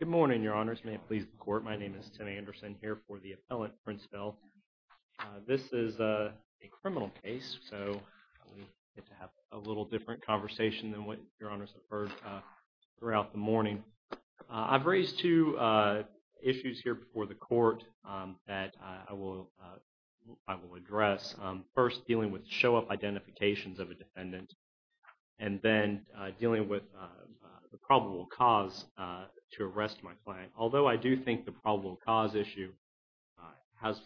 Good morning, Your Honors. May it please the Court, my name is Tim Anderson here for the Appellant, Prince Bell. This is a criminal case, so we get to have a little different conversation than what Your Honors have heard throughout the morning. I've raised two issues here before the Court that I will address. First, dealing with show-up identifications of a defendant, and then dealing with the probable cause to arrest my client. Although I do think the probable cause issue has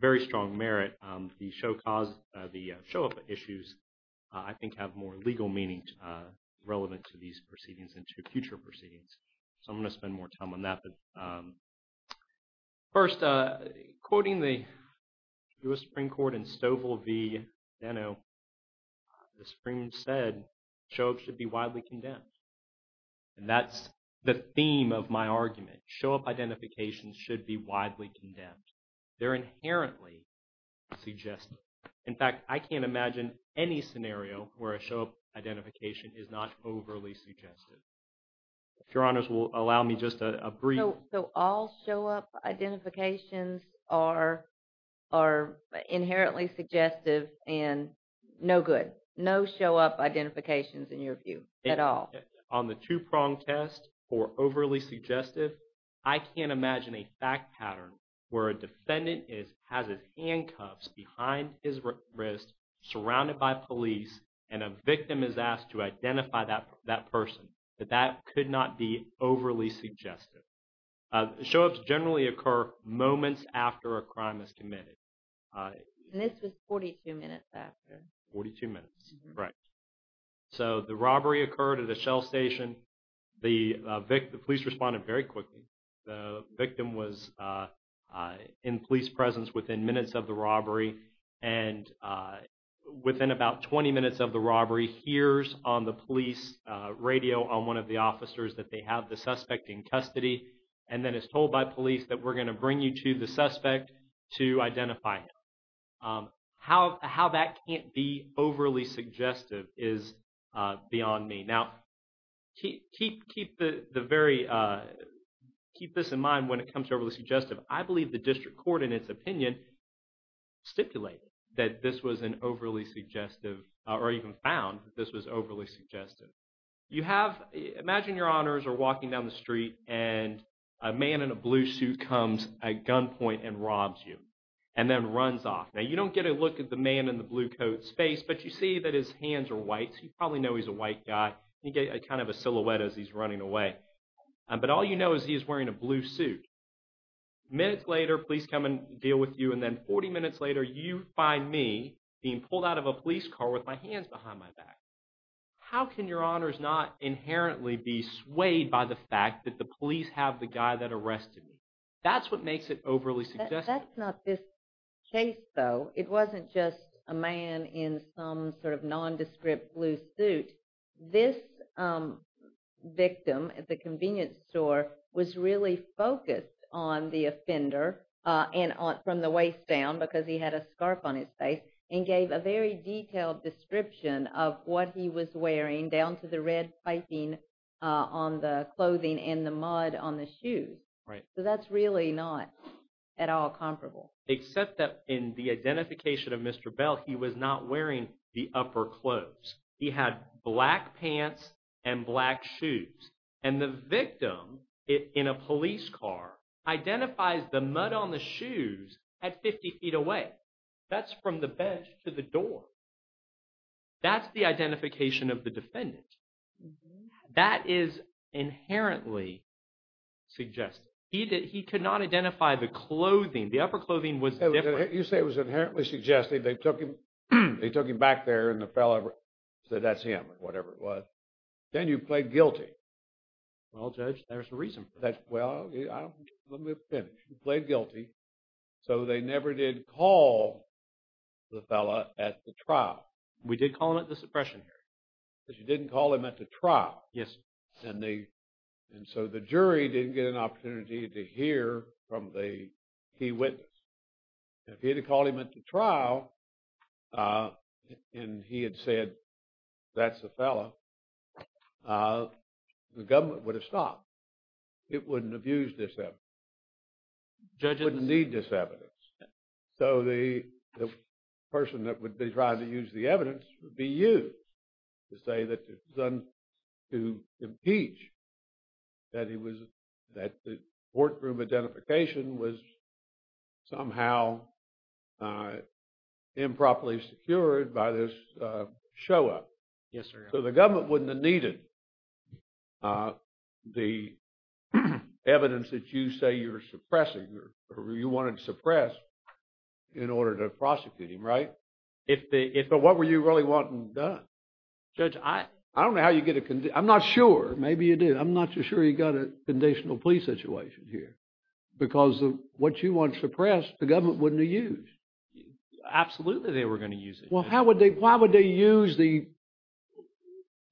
very strong merit, the show-up issues I think have more legal meaning relevant to these proceedings and to future proceedings. So I'm going to The Supreme said show-up should be widely condemned, and that's the theme of my argument. Show-up identifications should be widely condemned. They're inherently suggestive. In fact, I can't imagine any scenario where a show-up identification is not overly suggestive. If Your Honors will allow me just a brief... So all show-up identifications are inherently suggestive and no good. No show-up identifications, in your view, at all. On the two-pronged test for overly suggestive, I can't imagine a fact pattern where a defendant has his handcuffs behind his wrist, surrounded by police, and a victim is asked to identify that person. That could not be overly suggestive. Show-ups generally occur moments after a crime is committed. And this was 42 minutes after. Forty-two minutes, correct. So the robbery occurred at a Shell station. The police responded very quickly. The victim was in police presence within minutes of the robbery, and within about 20 minutes of the robbery, hears on the police radio on one of the officers that they have the suspect in custody, and then is told by police that we're going to bring you to the suspect to identify him. How that can't be overly suggestive is beyond me. Now, keep this in mind when it comes to overly suggestive. I believe the District Court, in its opinion, stipulated that this was an overly suggestive, or even found that this was overly suggestive. You have, imagine your honors are walking down the street, and a man in a blue suit comes at gunpoint and robs you, and then runs off. Now, you don't get a look at the man in the blue coat's face, but you see that his hands are white, so you probably know he's a white guy. You get kind of a silhouette as he's running away. But all you know is he is wearing a blue suit. Minutes later, police come and deal with you, and then 40 minutes later, you find me being pulled out of a police car with my hands behind my back. How can your honors not inherently be swayed by the fact that the police have the guy that arrested me? That's what makes it overly suggestive. That's not this case, though. It wasn't just a man in some sort of nondescript blue suit. This victim at the convenience store was really focused on the offender from the waist down because he had a scarf on his face, and gave a very detailed description of what he was wearing down to the red piping on the clothing and the mud on the shoes. So that's really not at all comparable. Except that in the identification of Mr. Bell, he was not wearing the upper clothes. He had black pants and black shoes. And the victim in a police car identifies the mud on the way. That's from the bench to the door. That's the identification of the defendant. That is inherently suggestive. He could not identify the clothing. The upper clothing was different. You say it was inherently suggestive. They took him back there and the fellow said that's him or whatever it was. Then you played guilty. Well, Judge, there's a reason for that. Well, let me finish. You played guilty. So they never did call the fellow at the trial. We did call him at the suppression hearing. But you didn't call him at the trial. Yes, sir. And so the jury didn't get an opportunity to hear from the key witness. If he had called him at the trial and he had said that's the fellow, the government would have stopped. It wouldn't have used this evidence. It wouldn't need this evidence. So the person that would be trying to use the evidence would be used to say that it was done to impeach, that the courtroom identification was somehow improperly secured by this show-up. Yes, sir. So the government wouldn't have needed the evidence that you say you're suppressing or you wanted to suppress in order to prosecute him, right? But what were you really wanting done? Judge, I don't know how you get a... I'm not sure. Maybe you do. I'm not sure you got a conditional plea situation here. Because what you want suppressed, the government wouldn't have used. Absolutely, they were going to use it. Well, how would they... Why would they use the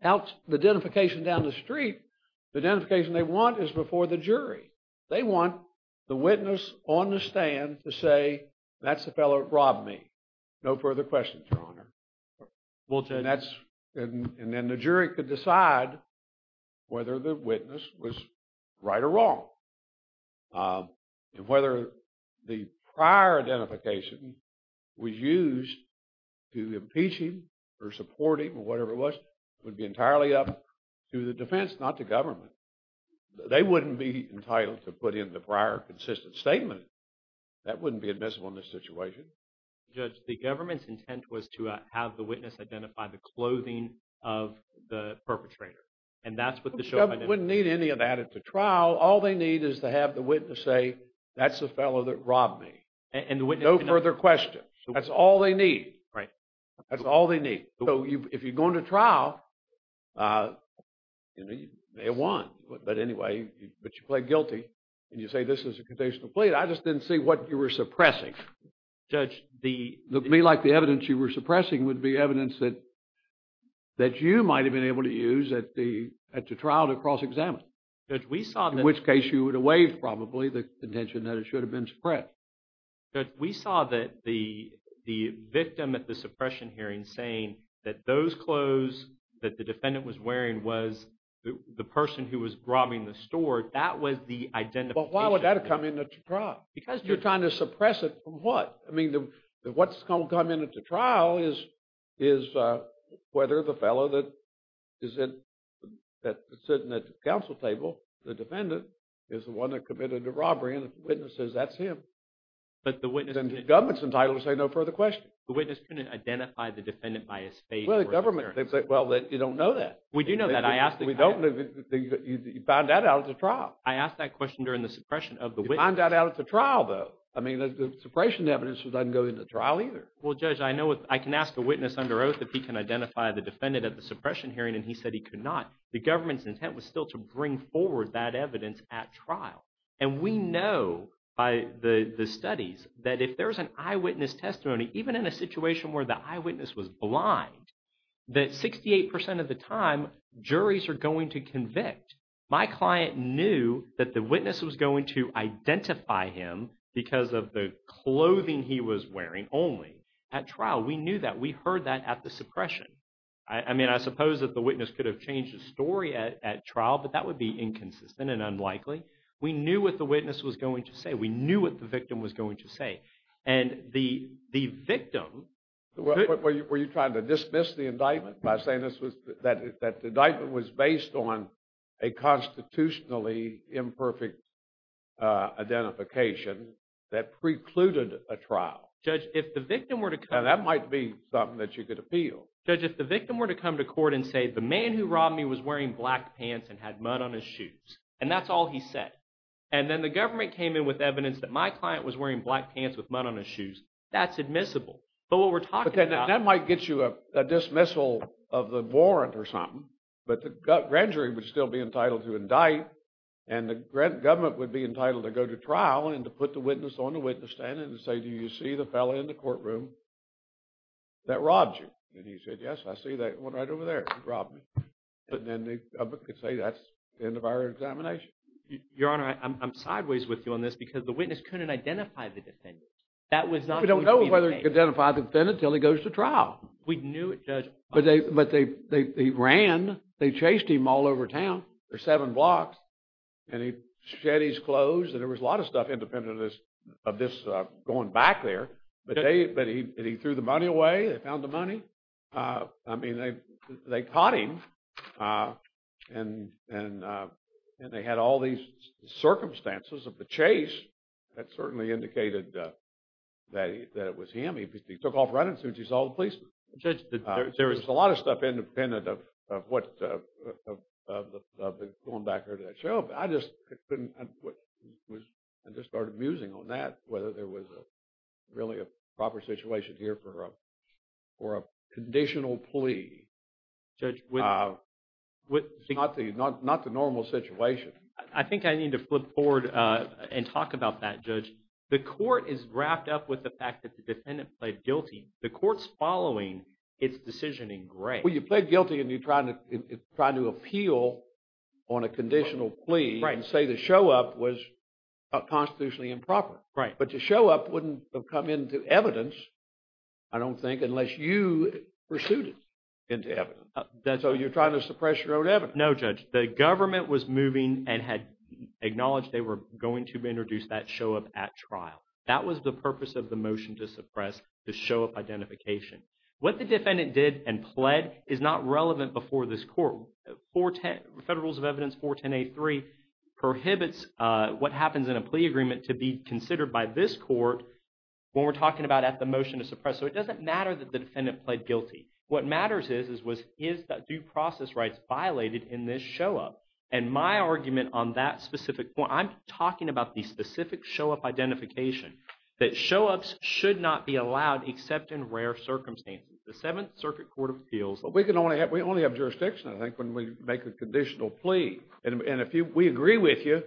identification down the street? The identification they want is before the jury. They want the witness on the stand to say that's the fellow that robbed me. No further questions, Your Honor. Well, Judge... And then the jury could decide whether the witness was right or wrong. And whether the jury would be entitled to impeach him, or support him, or whatever it was. It would be entirely up to the defense, not the government. They wouldn't be entitled to put in the prior consistent statement. That wouldn't be admissible in this situation. Judge, the government's intent was to have the witness identify the clothing of the perpetrator. And that's what the show-up identified. The government wouldn't need any of that at the trial. All they need is to have the witness say that's the fellow that robbed me. No further questions. That's all they need. Right. That's all they need. So if you go into trial, you know, you may have won. But anyway, but you plead guilty, and you say this is a contentional plea. I just didn't see what you were suppressing. Judge, the... To me, like the evidence you were suppressing would be evidence that you might have been able to use at the trial to cross-examine. Judge, we saw that... In which case, you would have waived probably the contention that it should have been suppressed. Right. Judge, we saw that the victim at the suppression hearing saying that those clothes that the defendant was wearing was the person who was robbing the store. That was the identification. But why would that have come in at the trial? Because you're trying to suppress it from what? I mean, what's going to come in at the trial is whether the fellow that is sitting at the counsel table, the defendant, is the one that committed the robbery. And if the witness... But the witness... Then the government's entitled to say no further questions. The witness couldn't identify the defendant by his face or his appearance. Well, the government, they'd say, well, you don't know that. We do know that. I asked the... We don't know that. You found that out at the trial. I asked that question during the suppression of the witness. You found that out at the trial, though. I mean, the suppression evidence doesn't go into trial either. Well, Judge, I can ask a witness under oath if he can identify the defendant at the suppression hearing, and he said he could not. The government's intent was still to bring forward that evidence at trial. And we know by the studies that if there's an eyewitness testimony, even in a situation where the eyewitness was blind, that 68% of the time, juries are going to convict. My client knew that the witness was going to identify him because of the clothing he was wearing only at trial. We knew that. We heard that at the suppression. I mean, I suppose that the witness could have changed the story at trial, but that would be inconsistent and unlikely. We knew what the witness was going to say. We knew what the victim was going to say. And the victim... Were you trying to dismiss the indictment by saying that the indictment was based on a constitutionally imperfect identification that precluded a trial? Judge, if the victim were to come... Now, that might be something that you could appeal. Judge, if the victim were to come to court and say, the man who robbed me was wearing black pants and had mud on his shoes. And that's all he said. And then the government came in with evidence that my client was wearing black pants with mud on his shoes. That's admissible. But what we're talking about... But that might get you a dismissal of the warrant or something. But the grand jury would still be entitled to indict. And the government would be entitled to go to trial and to put the witness on the witness stand and say, do you see the fellow in the courtroom that I can say that's the end of our examination. Your Honor, I'm sideways with you on this because the witness couldn't identify the defendant. That was not... We don't know whether he could identify the defendant until he goes to trial. We knew it, Judge. But they ran. They chased him all over town for seven blocks. And he shed his clothes. And there was a lot of stuff independent of this going back there. But he threw the money And they had all these circumstances of the chase that certainly indicated that it was him. He took off running as soon as he saw the policeman. Judge... There was a lot of stuff independent of the going back there to that show. I just couldn't... I just started musing on that, whether there was really a proper situation here for a conditional plea. Judge... It's not the normal situation. I think I need to flip forward and talk about that, Judge. The court is wrapped up with the fact that the defendant pled guilty. The court's following its decision in gray. Well, you pled guilty and you're trying to appeal on a conditional plea and say the show-up was constitutionally improper. Right. But the show-up wouldn't have come into evidence, I don't think, unless you pursued it into evidence. So you're trying to suppress your own evidence. No, Judge. The government was moving and had acknowledged they were going to introduce that show-up at trial. That was the purpose of the motion to suppress the show-up identification. What the defendant did and pled is not relevant before this court. Federal Rules of Evidence 410A3 prohibits what happens in a plea agreement to be considered by this court when we're talking about at the motion to suppress. So it doesn't matter that the defendant pled guilty. What matters is, is that due process rights violated in this show-up? And my argument on that specific point, I'm talking about the specific show-up identification, that show-ups should not be allowed except in rare circumstances. The Seventh Circuit Court of Appeals... We only have jurisdiction, I think, when we make a conditional plea. And if we agree with you,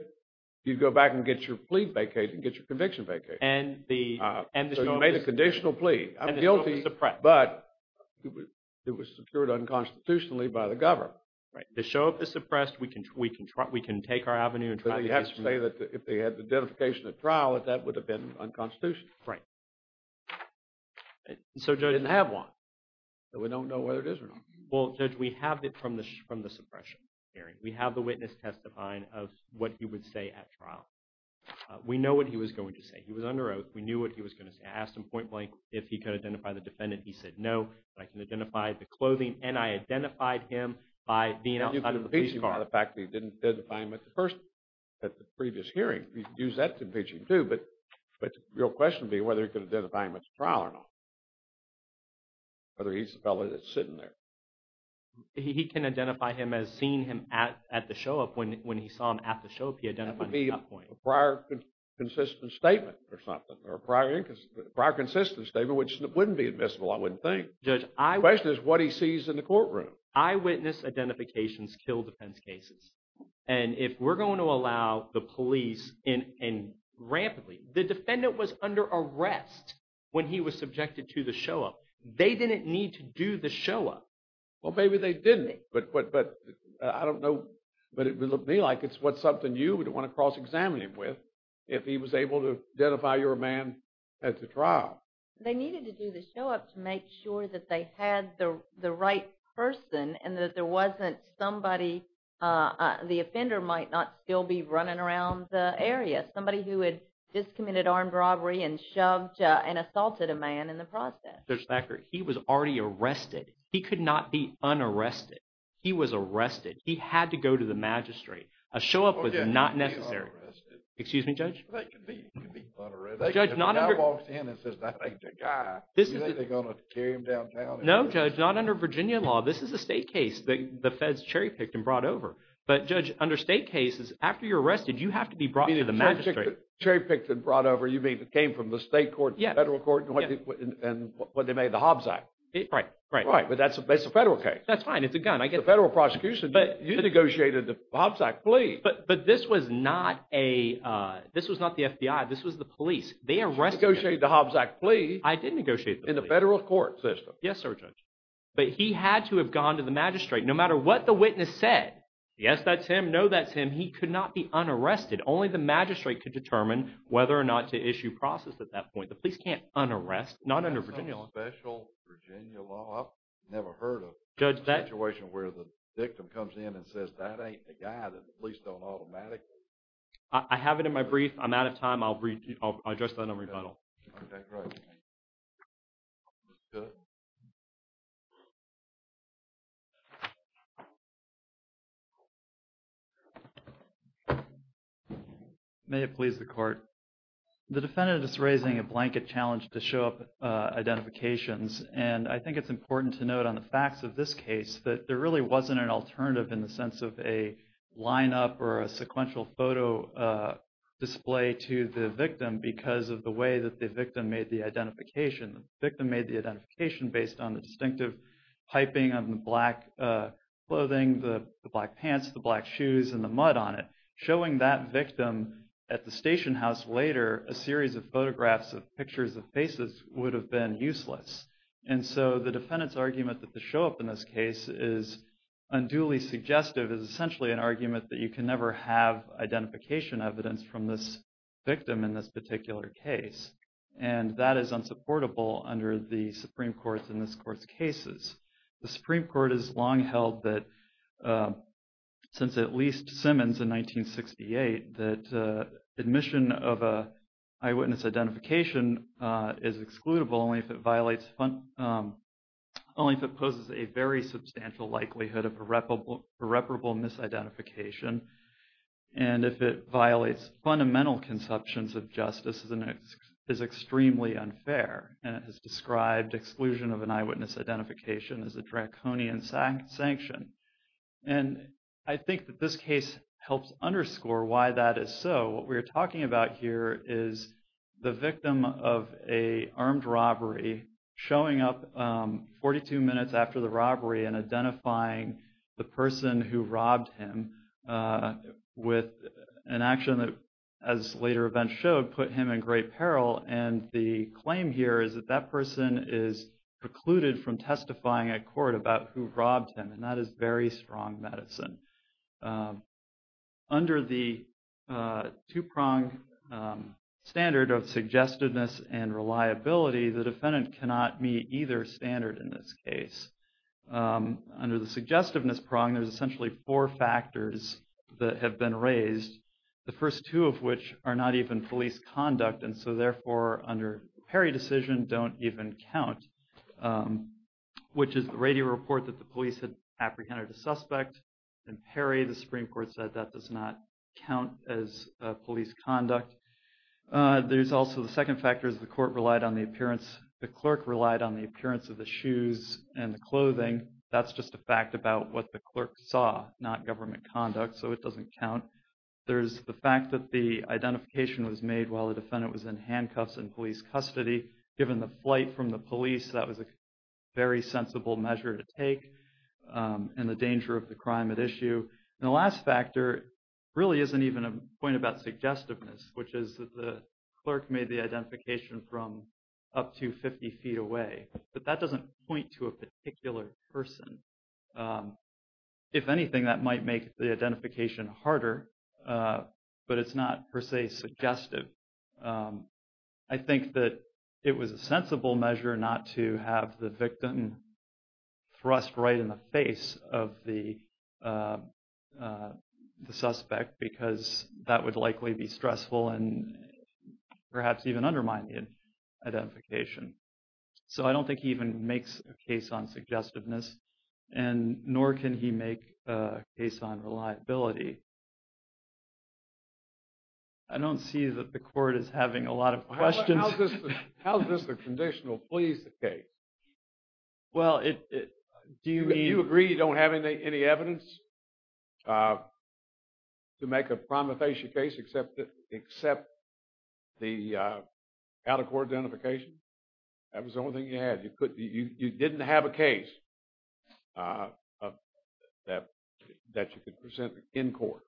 you go back and get your plea vacated, get your conviction vacated. And the show-up is... So you made a conditional plea. I'm guilty, but it was secured unconstitutionally by the government. Right. The show-up is suppressed. We can take our avenue and try to... But you have to say that if they had the identification at trial, that that would have been unconstitutional. Right. So Judge... We didn't have one, so we don't know whether it is or not. Well, Judge, we have it from the suppression hearing. We have the witness testifying of what he would say at trial. We know what he was going to say. He was under oath. We knew what he was going to say. I asked him point blank if he could identify the defendant. He said, no, but I can identify the clothing, and I identified him by being outside of the police car. And you could impeach him by the fact that you didn't identify him as the person at the previous hearing. You could use that to impeach him, too. But the real question would be whether he could identify him at the trial or not, whether he's the fellow that's sitting there. He can identify him as seeing him at the show-up. When he saw him at the show-up, he identified him at that point. That would be a prior consistent statement or something, or a prior consistent statement, which wouldn't be admissible, I wouldn't think. Judge, I... The question is what he sees in the courtroom. Eyewitness identifications kill defense cases. And if we're going to allow the police in rampantly... The defendant was under arrest when he was subjected to the show-up. They didn't need to do the show-up. Well, maybe they didn't, but I don't know. But it would look to me like it's something you would want to cross-examine him with if he was able to identify your man at the trial. They needed to do the show-up to make sure that they had the right person and that there wasn't somebody... The offender might not still be running around the area. Somebody who had just committed armed robbery and shoved and assaulted a man in the process. Judge Thacker, he was already arrested. He could not be un-arrested. He was arrested. He had to go to the magistrate. A show-up was not necessary. Excuse me, Judge? He could be un-arrested. If a guy walks in and says, that ain't the guy, do you think they're going to carry him downtown? No, Judge. Not under Virginia law. This is a state case. The feds cherry-picked and brought over. But, Judge, under state cases, after you're arrested, you have to be brought to the magistrate. Cherry-picked and brought over. You mean it came from the state court, the federal court, and what they made, the Hobbs Act? Right. Right. But that's a federal case. That's fine. It's a gun. It's a federal prosecution. You negotiated the Hobbs Act. Please. But this was not the FBI. This was the police. They arrested him. You negotiated the Hobbs Act. I did negotiate the Hobbs Act. In the federal court system. Yes, Sir, Judge. But he had to have gone to the magistrate, no matter what the witness said. Yes, that's him. No, that's him. He could not be un-arrested. Only the magistrate could determine whether or not to issue process at that point. The police can't un-arrest. Not under Virginia law. That's a special Virginia law. I've never heard of a situation where the victim comes in and says, that ain't the guy. The police don't automatically… I have it in my brief. I'm out of time. I'll address that in a rebuttal. Okay, great. Good. May it please the court. The defendant is raising a blanket challenge to show up identifications. And I think it's important to note on the facts of this case that there really wasn't an alternative in the sense of a lineup or a sequential photo display to the victim because of the way that the victim made the identification. The victim made the identification based on the distinctive piping on the black clothing, the black pants, the black shoes, and the mud on it. Showing that victim at the station house later, a series of photographs of pictures of faces would have been useless. And so, the defendant's argument that the show up in this case is unduly suggestive is essentially an argument that you can never have identification evidence from this victim in this particular case. And that is unsupportable under the Supreme Court's and this court's cases. The Supreme Court has long held that, since at least Simmons in 1968, that admission of an eyewitness identification is excludable only if it poses a very substantial likelihood of a reparable misidentification. And if it violates fundamental conceptions of justice is extremely unfair. And it has described exclusion of an eyewitness identification as a draconian sanction. And I think that this case helps underscore why that is so. What we are talking about here is the victim of an armed robbery showing up 42 minutes after the robbery and identifying the person who robbed him with an action that, as later events showed, put him in great peril. And the claim here is that that person is precluded from testifying at court about who robbed him. And that is very strong medicine. Under the two-pronged standard of suggestiveness and reliability, the defendant cannot meet either standard in this case. Under the suggestiveness prong, there's essentially four factors that have been raised, the first two of which are not even police conduct. And so therefore, under Perry decision, don't even count, which is the radio report that the police had apprehended a suspect. In Perry, the Supreme Court said that does not count as police conduct. There's also the second factor is the court relied on the appearance, the clerk relied on the appearance of the shoes and the clothing. That's just a fact about what the clerk saw, not government conduct. So it doesn't count. There's the fact that the identification was made while the defendant was in handcuffs in police custody. Given the flight from the police, that was a very sensible measure to take and the danger of the crime at issue. And the last factor really isn't even a point about suggestiveness, which is that the clerk made the identification from up to 50 feet away, but that doesn't point to a particular person. If anything, that might make the identification harder, but it's not per se suggestive. I think that it was a sensible measure not to have the victim thrust right in the face of the suspect because that would likely be stressful and perhaps even undermine the identification. So I don't think he even makes a case on suggestiveness, and nor can he make a case on reliability. I don't see that the court is having a lot of questions. How is this a conditional police case? Well, it... Do you agree you don't have any evidence to make a promulgation case except the out-of-court identification? That was the only thing you had. You didn't have a case that you could present in court.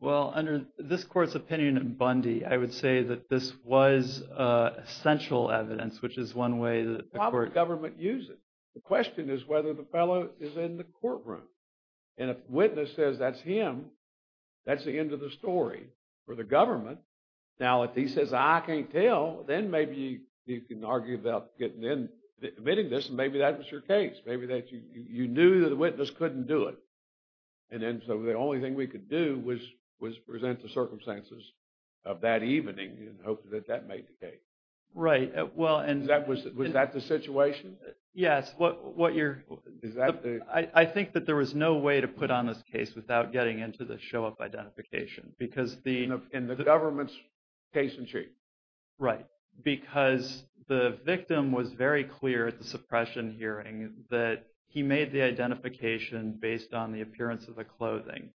Well, under this court's opinion in Bundy, I would say that this was essential evidence, which is one way that the court... Why would the government use it? The question is whether the fellow is in the courtroom. And if the witness says that's him, that's the end of the story for the government. Now, if he says, I can't tell, then maybe you can argue about getting in, admitting this, and maybe that was your case. Maybe that you knew that the witness couldn't do it. And then so the only thing we could do was present the circumstances of that evening and hope that that made the case. Right. Well, and... Was that the situation? Yes. What you're... Is that the... I think that there was no way to put on this case without getting into the show-up identification because the... In the government's case in chief. Right. Because the victim was very clear at the suppression hearing that he made the identification based on the appearance of the clothing.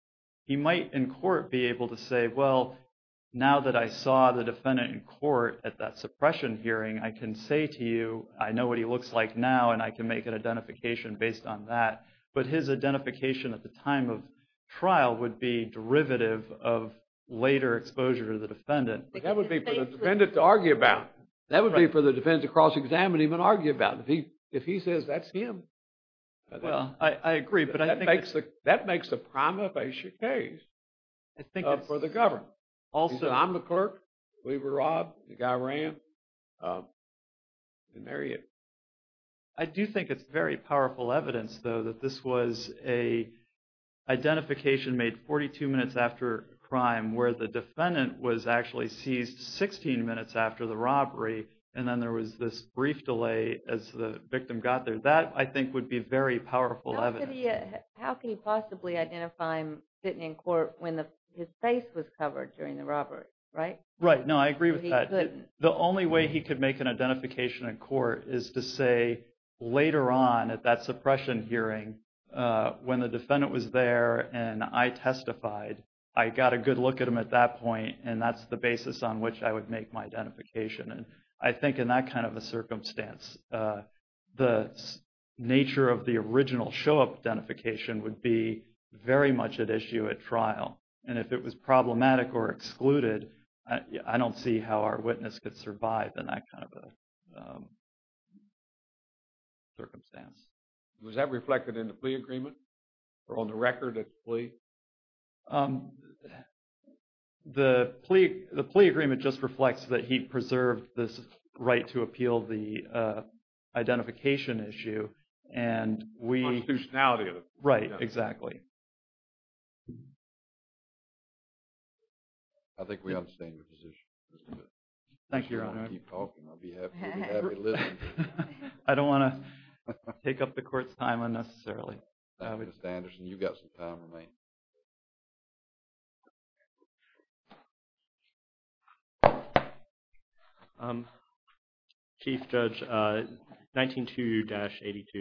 He might in court be able to say, well, now that I saw the defendant in court at that suppression hearing, I can say to you, I know what he looks like now and I can make an identification based on that. But his identification at the time of trial would be derivative of later exposure to the defendant. But that would be for the defendant to argue about. That would be for the defendant to cross-examine and even argue about. If he says that's him. Well, I agree, but I think... That makes a prima facie case for the government. Also... I'm the clerk. We were robbed. The guy ran. They marry you. I do think it's very powerful evidence, though, that this was a identification made 42 minutes after crime where the defendant was actually seized 16 minutes after the robbery and then there was this brief delay as the victim got there. That, I think, would be very powerful evidence. How could he possibly identify him sitting in court when his face was covered during the robbery, right? Right. No, I agree with that. I think that the only way he could make an identification in court is to say, later on at that suppression hearing, when the defendant was there and I testified, I got a good look at him at that point and that's the basis on which I would make my identification. I think in that kind of a circumstance, the nature of the original show-up identification would be very much at issue at trial. If it was problematic or excluded, I don't see how our witness could survive in that kind of a circumstance. Was that reflected in the plea agreement or on the record at the plea? The plea agreement just reflects that he preserved this right to appeal the identification issue and we... Constitutionality of the plea. Right, exactly. I think we understand your position. Thank you, Your Honor. If you want to keep talking, I'll be happy to listen. I don't want to take up the court's time unnecessarily. Mr. Anderson, you've got some time remaining. Chief Judge, 192-82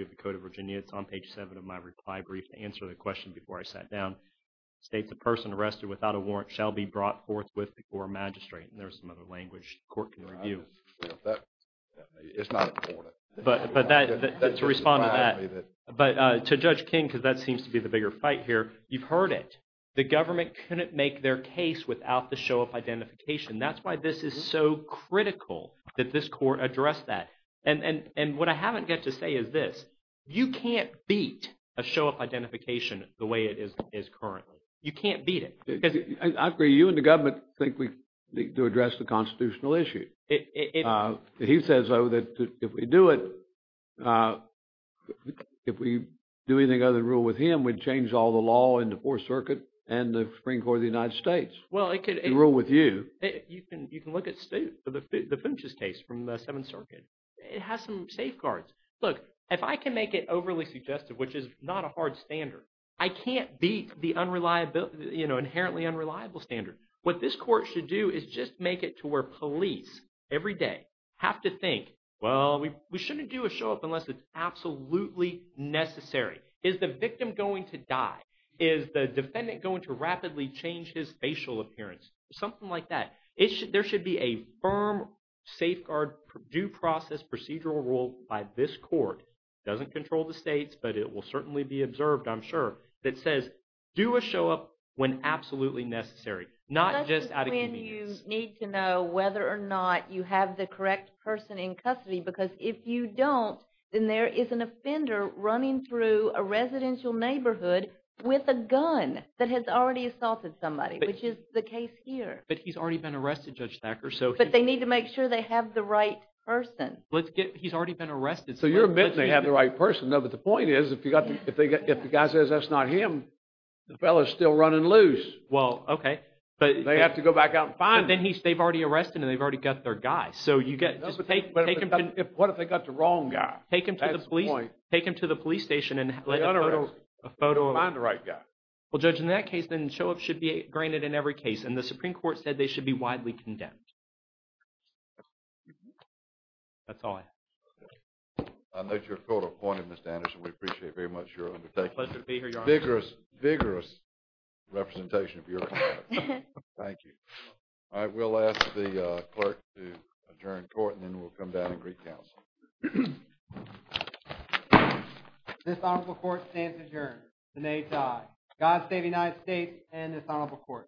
of the Code of Virginia, it's on page 7 of my reply brief to answer the question before I sat down, states a person arrested without a warrant shall be brought forthwith before a magistrate. And there's some other language the court can review. It's not important. But to respond to that, but to Judge King, because that seems to be the bigger fight here, you've heard it. The government couldn't make their case without the show-up identification. That's why this is so critical that this court address that. And what I haven't got to say is this. You can't beat a show-up identification the way it is currently. You can't beat it. I agree. You and the government think we need to address the constitutional issue. He says that if we do it, if we do anything other than rule with him, we'd change all the law in the Fourth Circuit and the Supreme Court of the United States. Well, it could... And rule with you. You can look at the Finches case from the Seventh Circuit. It has some safeguards. Look, if I can make it overly suggestive, which is not a hard standard, I can't beat the inherently unreliable standard. What this court should do is just make it to where police every day have to think, well, we shouldn't do a show-up unless it's absolutely necessary. Is the victim going to die? Is the defendant going to rapidly change his facial appearance? Something like that. There should be a firm safeguard due process procedural rule by this court. It doesn't control the states, but it will certainly be observed, I'm sure, that says do a show-up when absolutely necessary, not just out of convenience. That's just when you need to know whether or not you have the correct person in custody because if you don't, then there is an offender running through a residential neighborhood with a gun that has already assaulted somebody, which is the case here. But he's already been arrested, Judge Thacker. But they need to make sure they have the right person. He's already been arrested. So you're admitting they have the right person. No, but the point is, if the guy says that's not him, the fellow's still running loose. Well, okay. They have to go back out and find him. But then they've already arrested him and they've already got their guy. So you get, just take him to… What if they got the wrong guy? That's the point. Take him to the police station and let a photo… Find the right guy. Well, Judge, in that case, then show-ups should be granted in every case. And the Supreme Court said they should be widely condemned. That's all I have. I note your photo point, Mr. Anderson. We appreciate very much your undertaking. Pleasure to be here, Your Honor. Vigorous, vigorous representation of your… Thank you. All right. We'll ask the clerk to adjourn court and then we'll come down and recounsel. This honorable court stands adjourned. The nays die. God save the United States and this honorable court.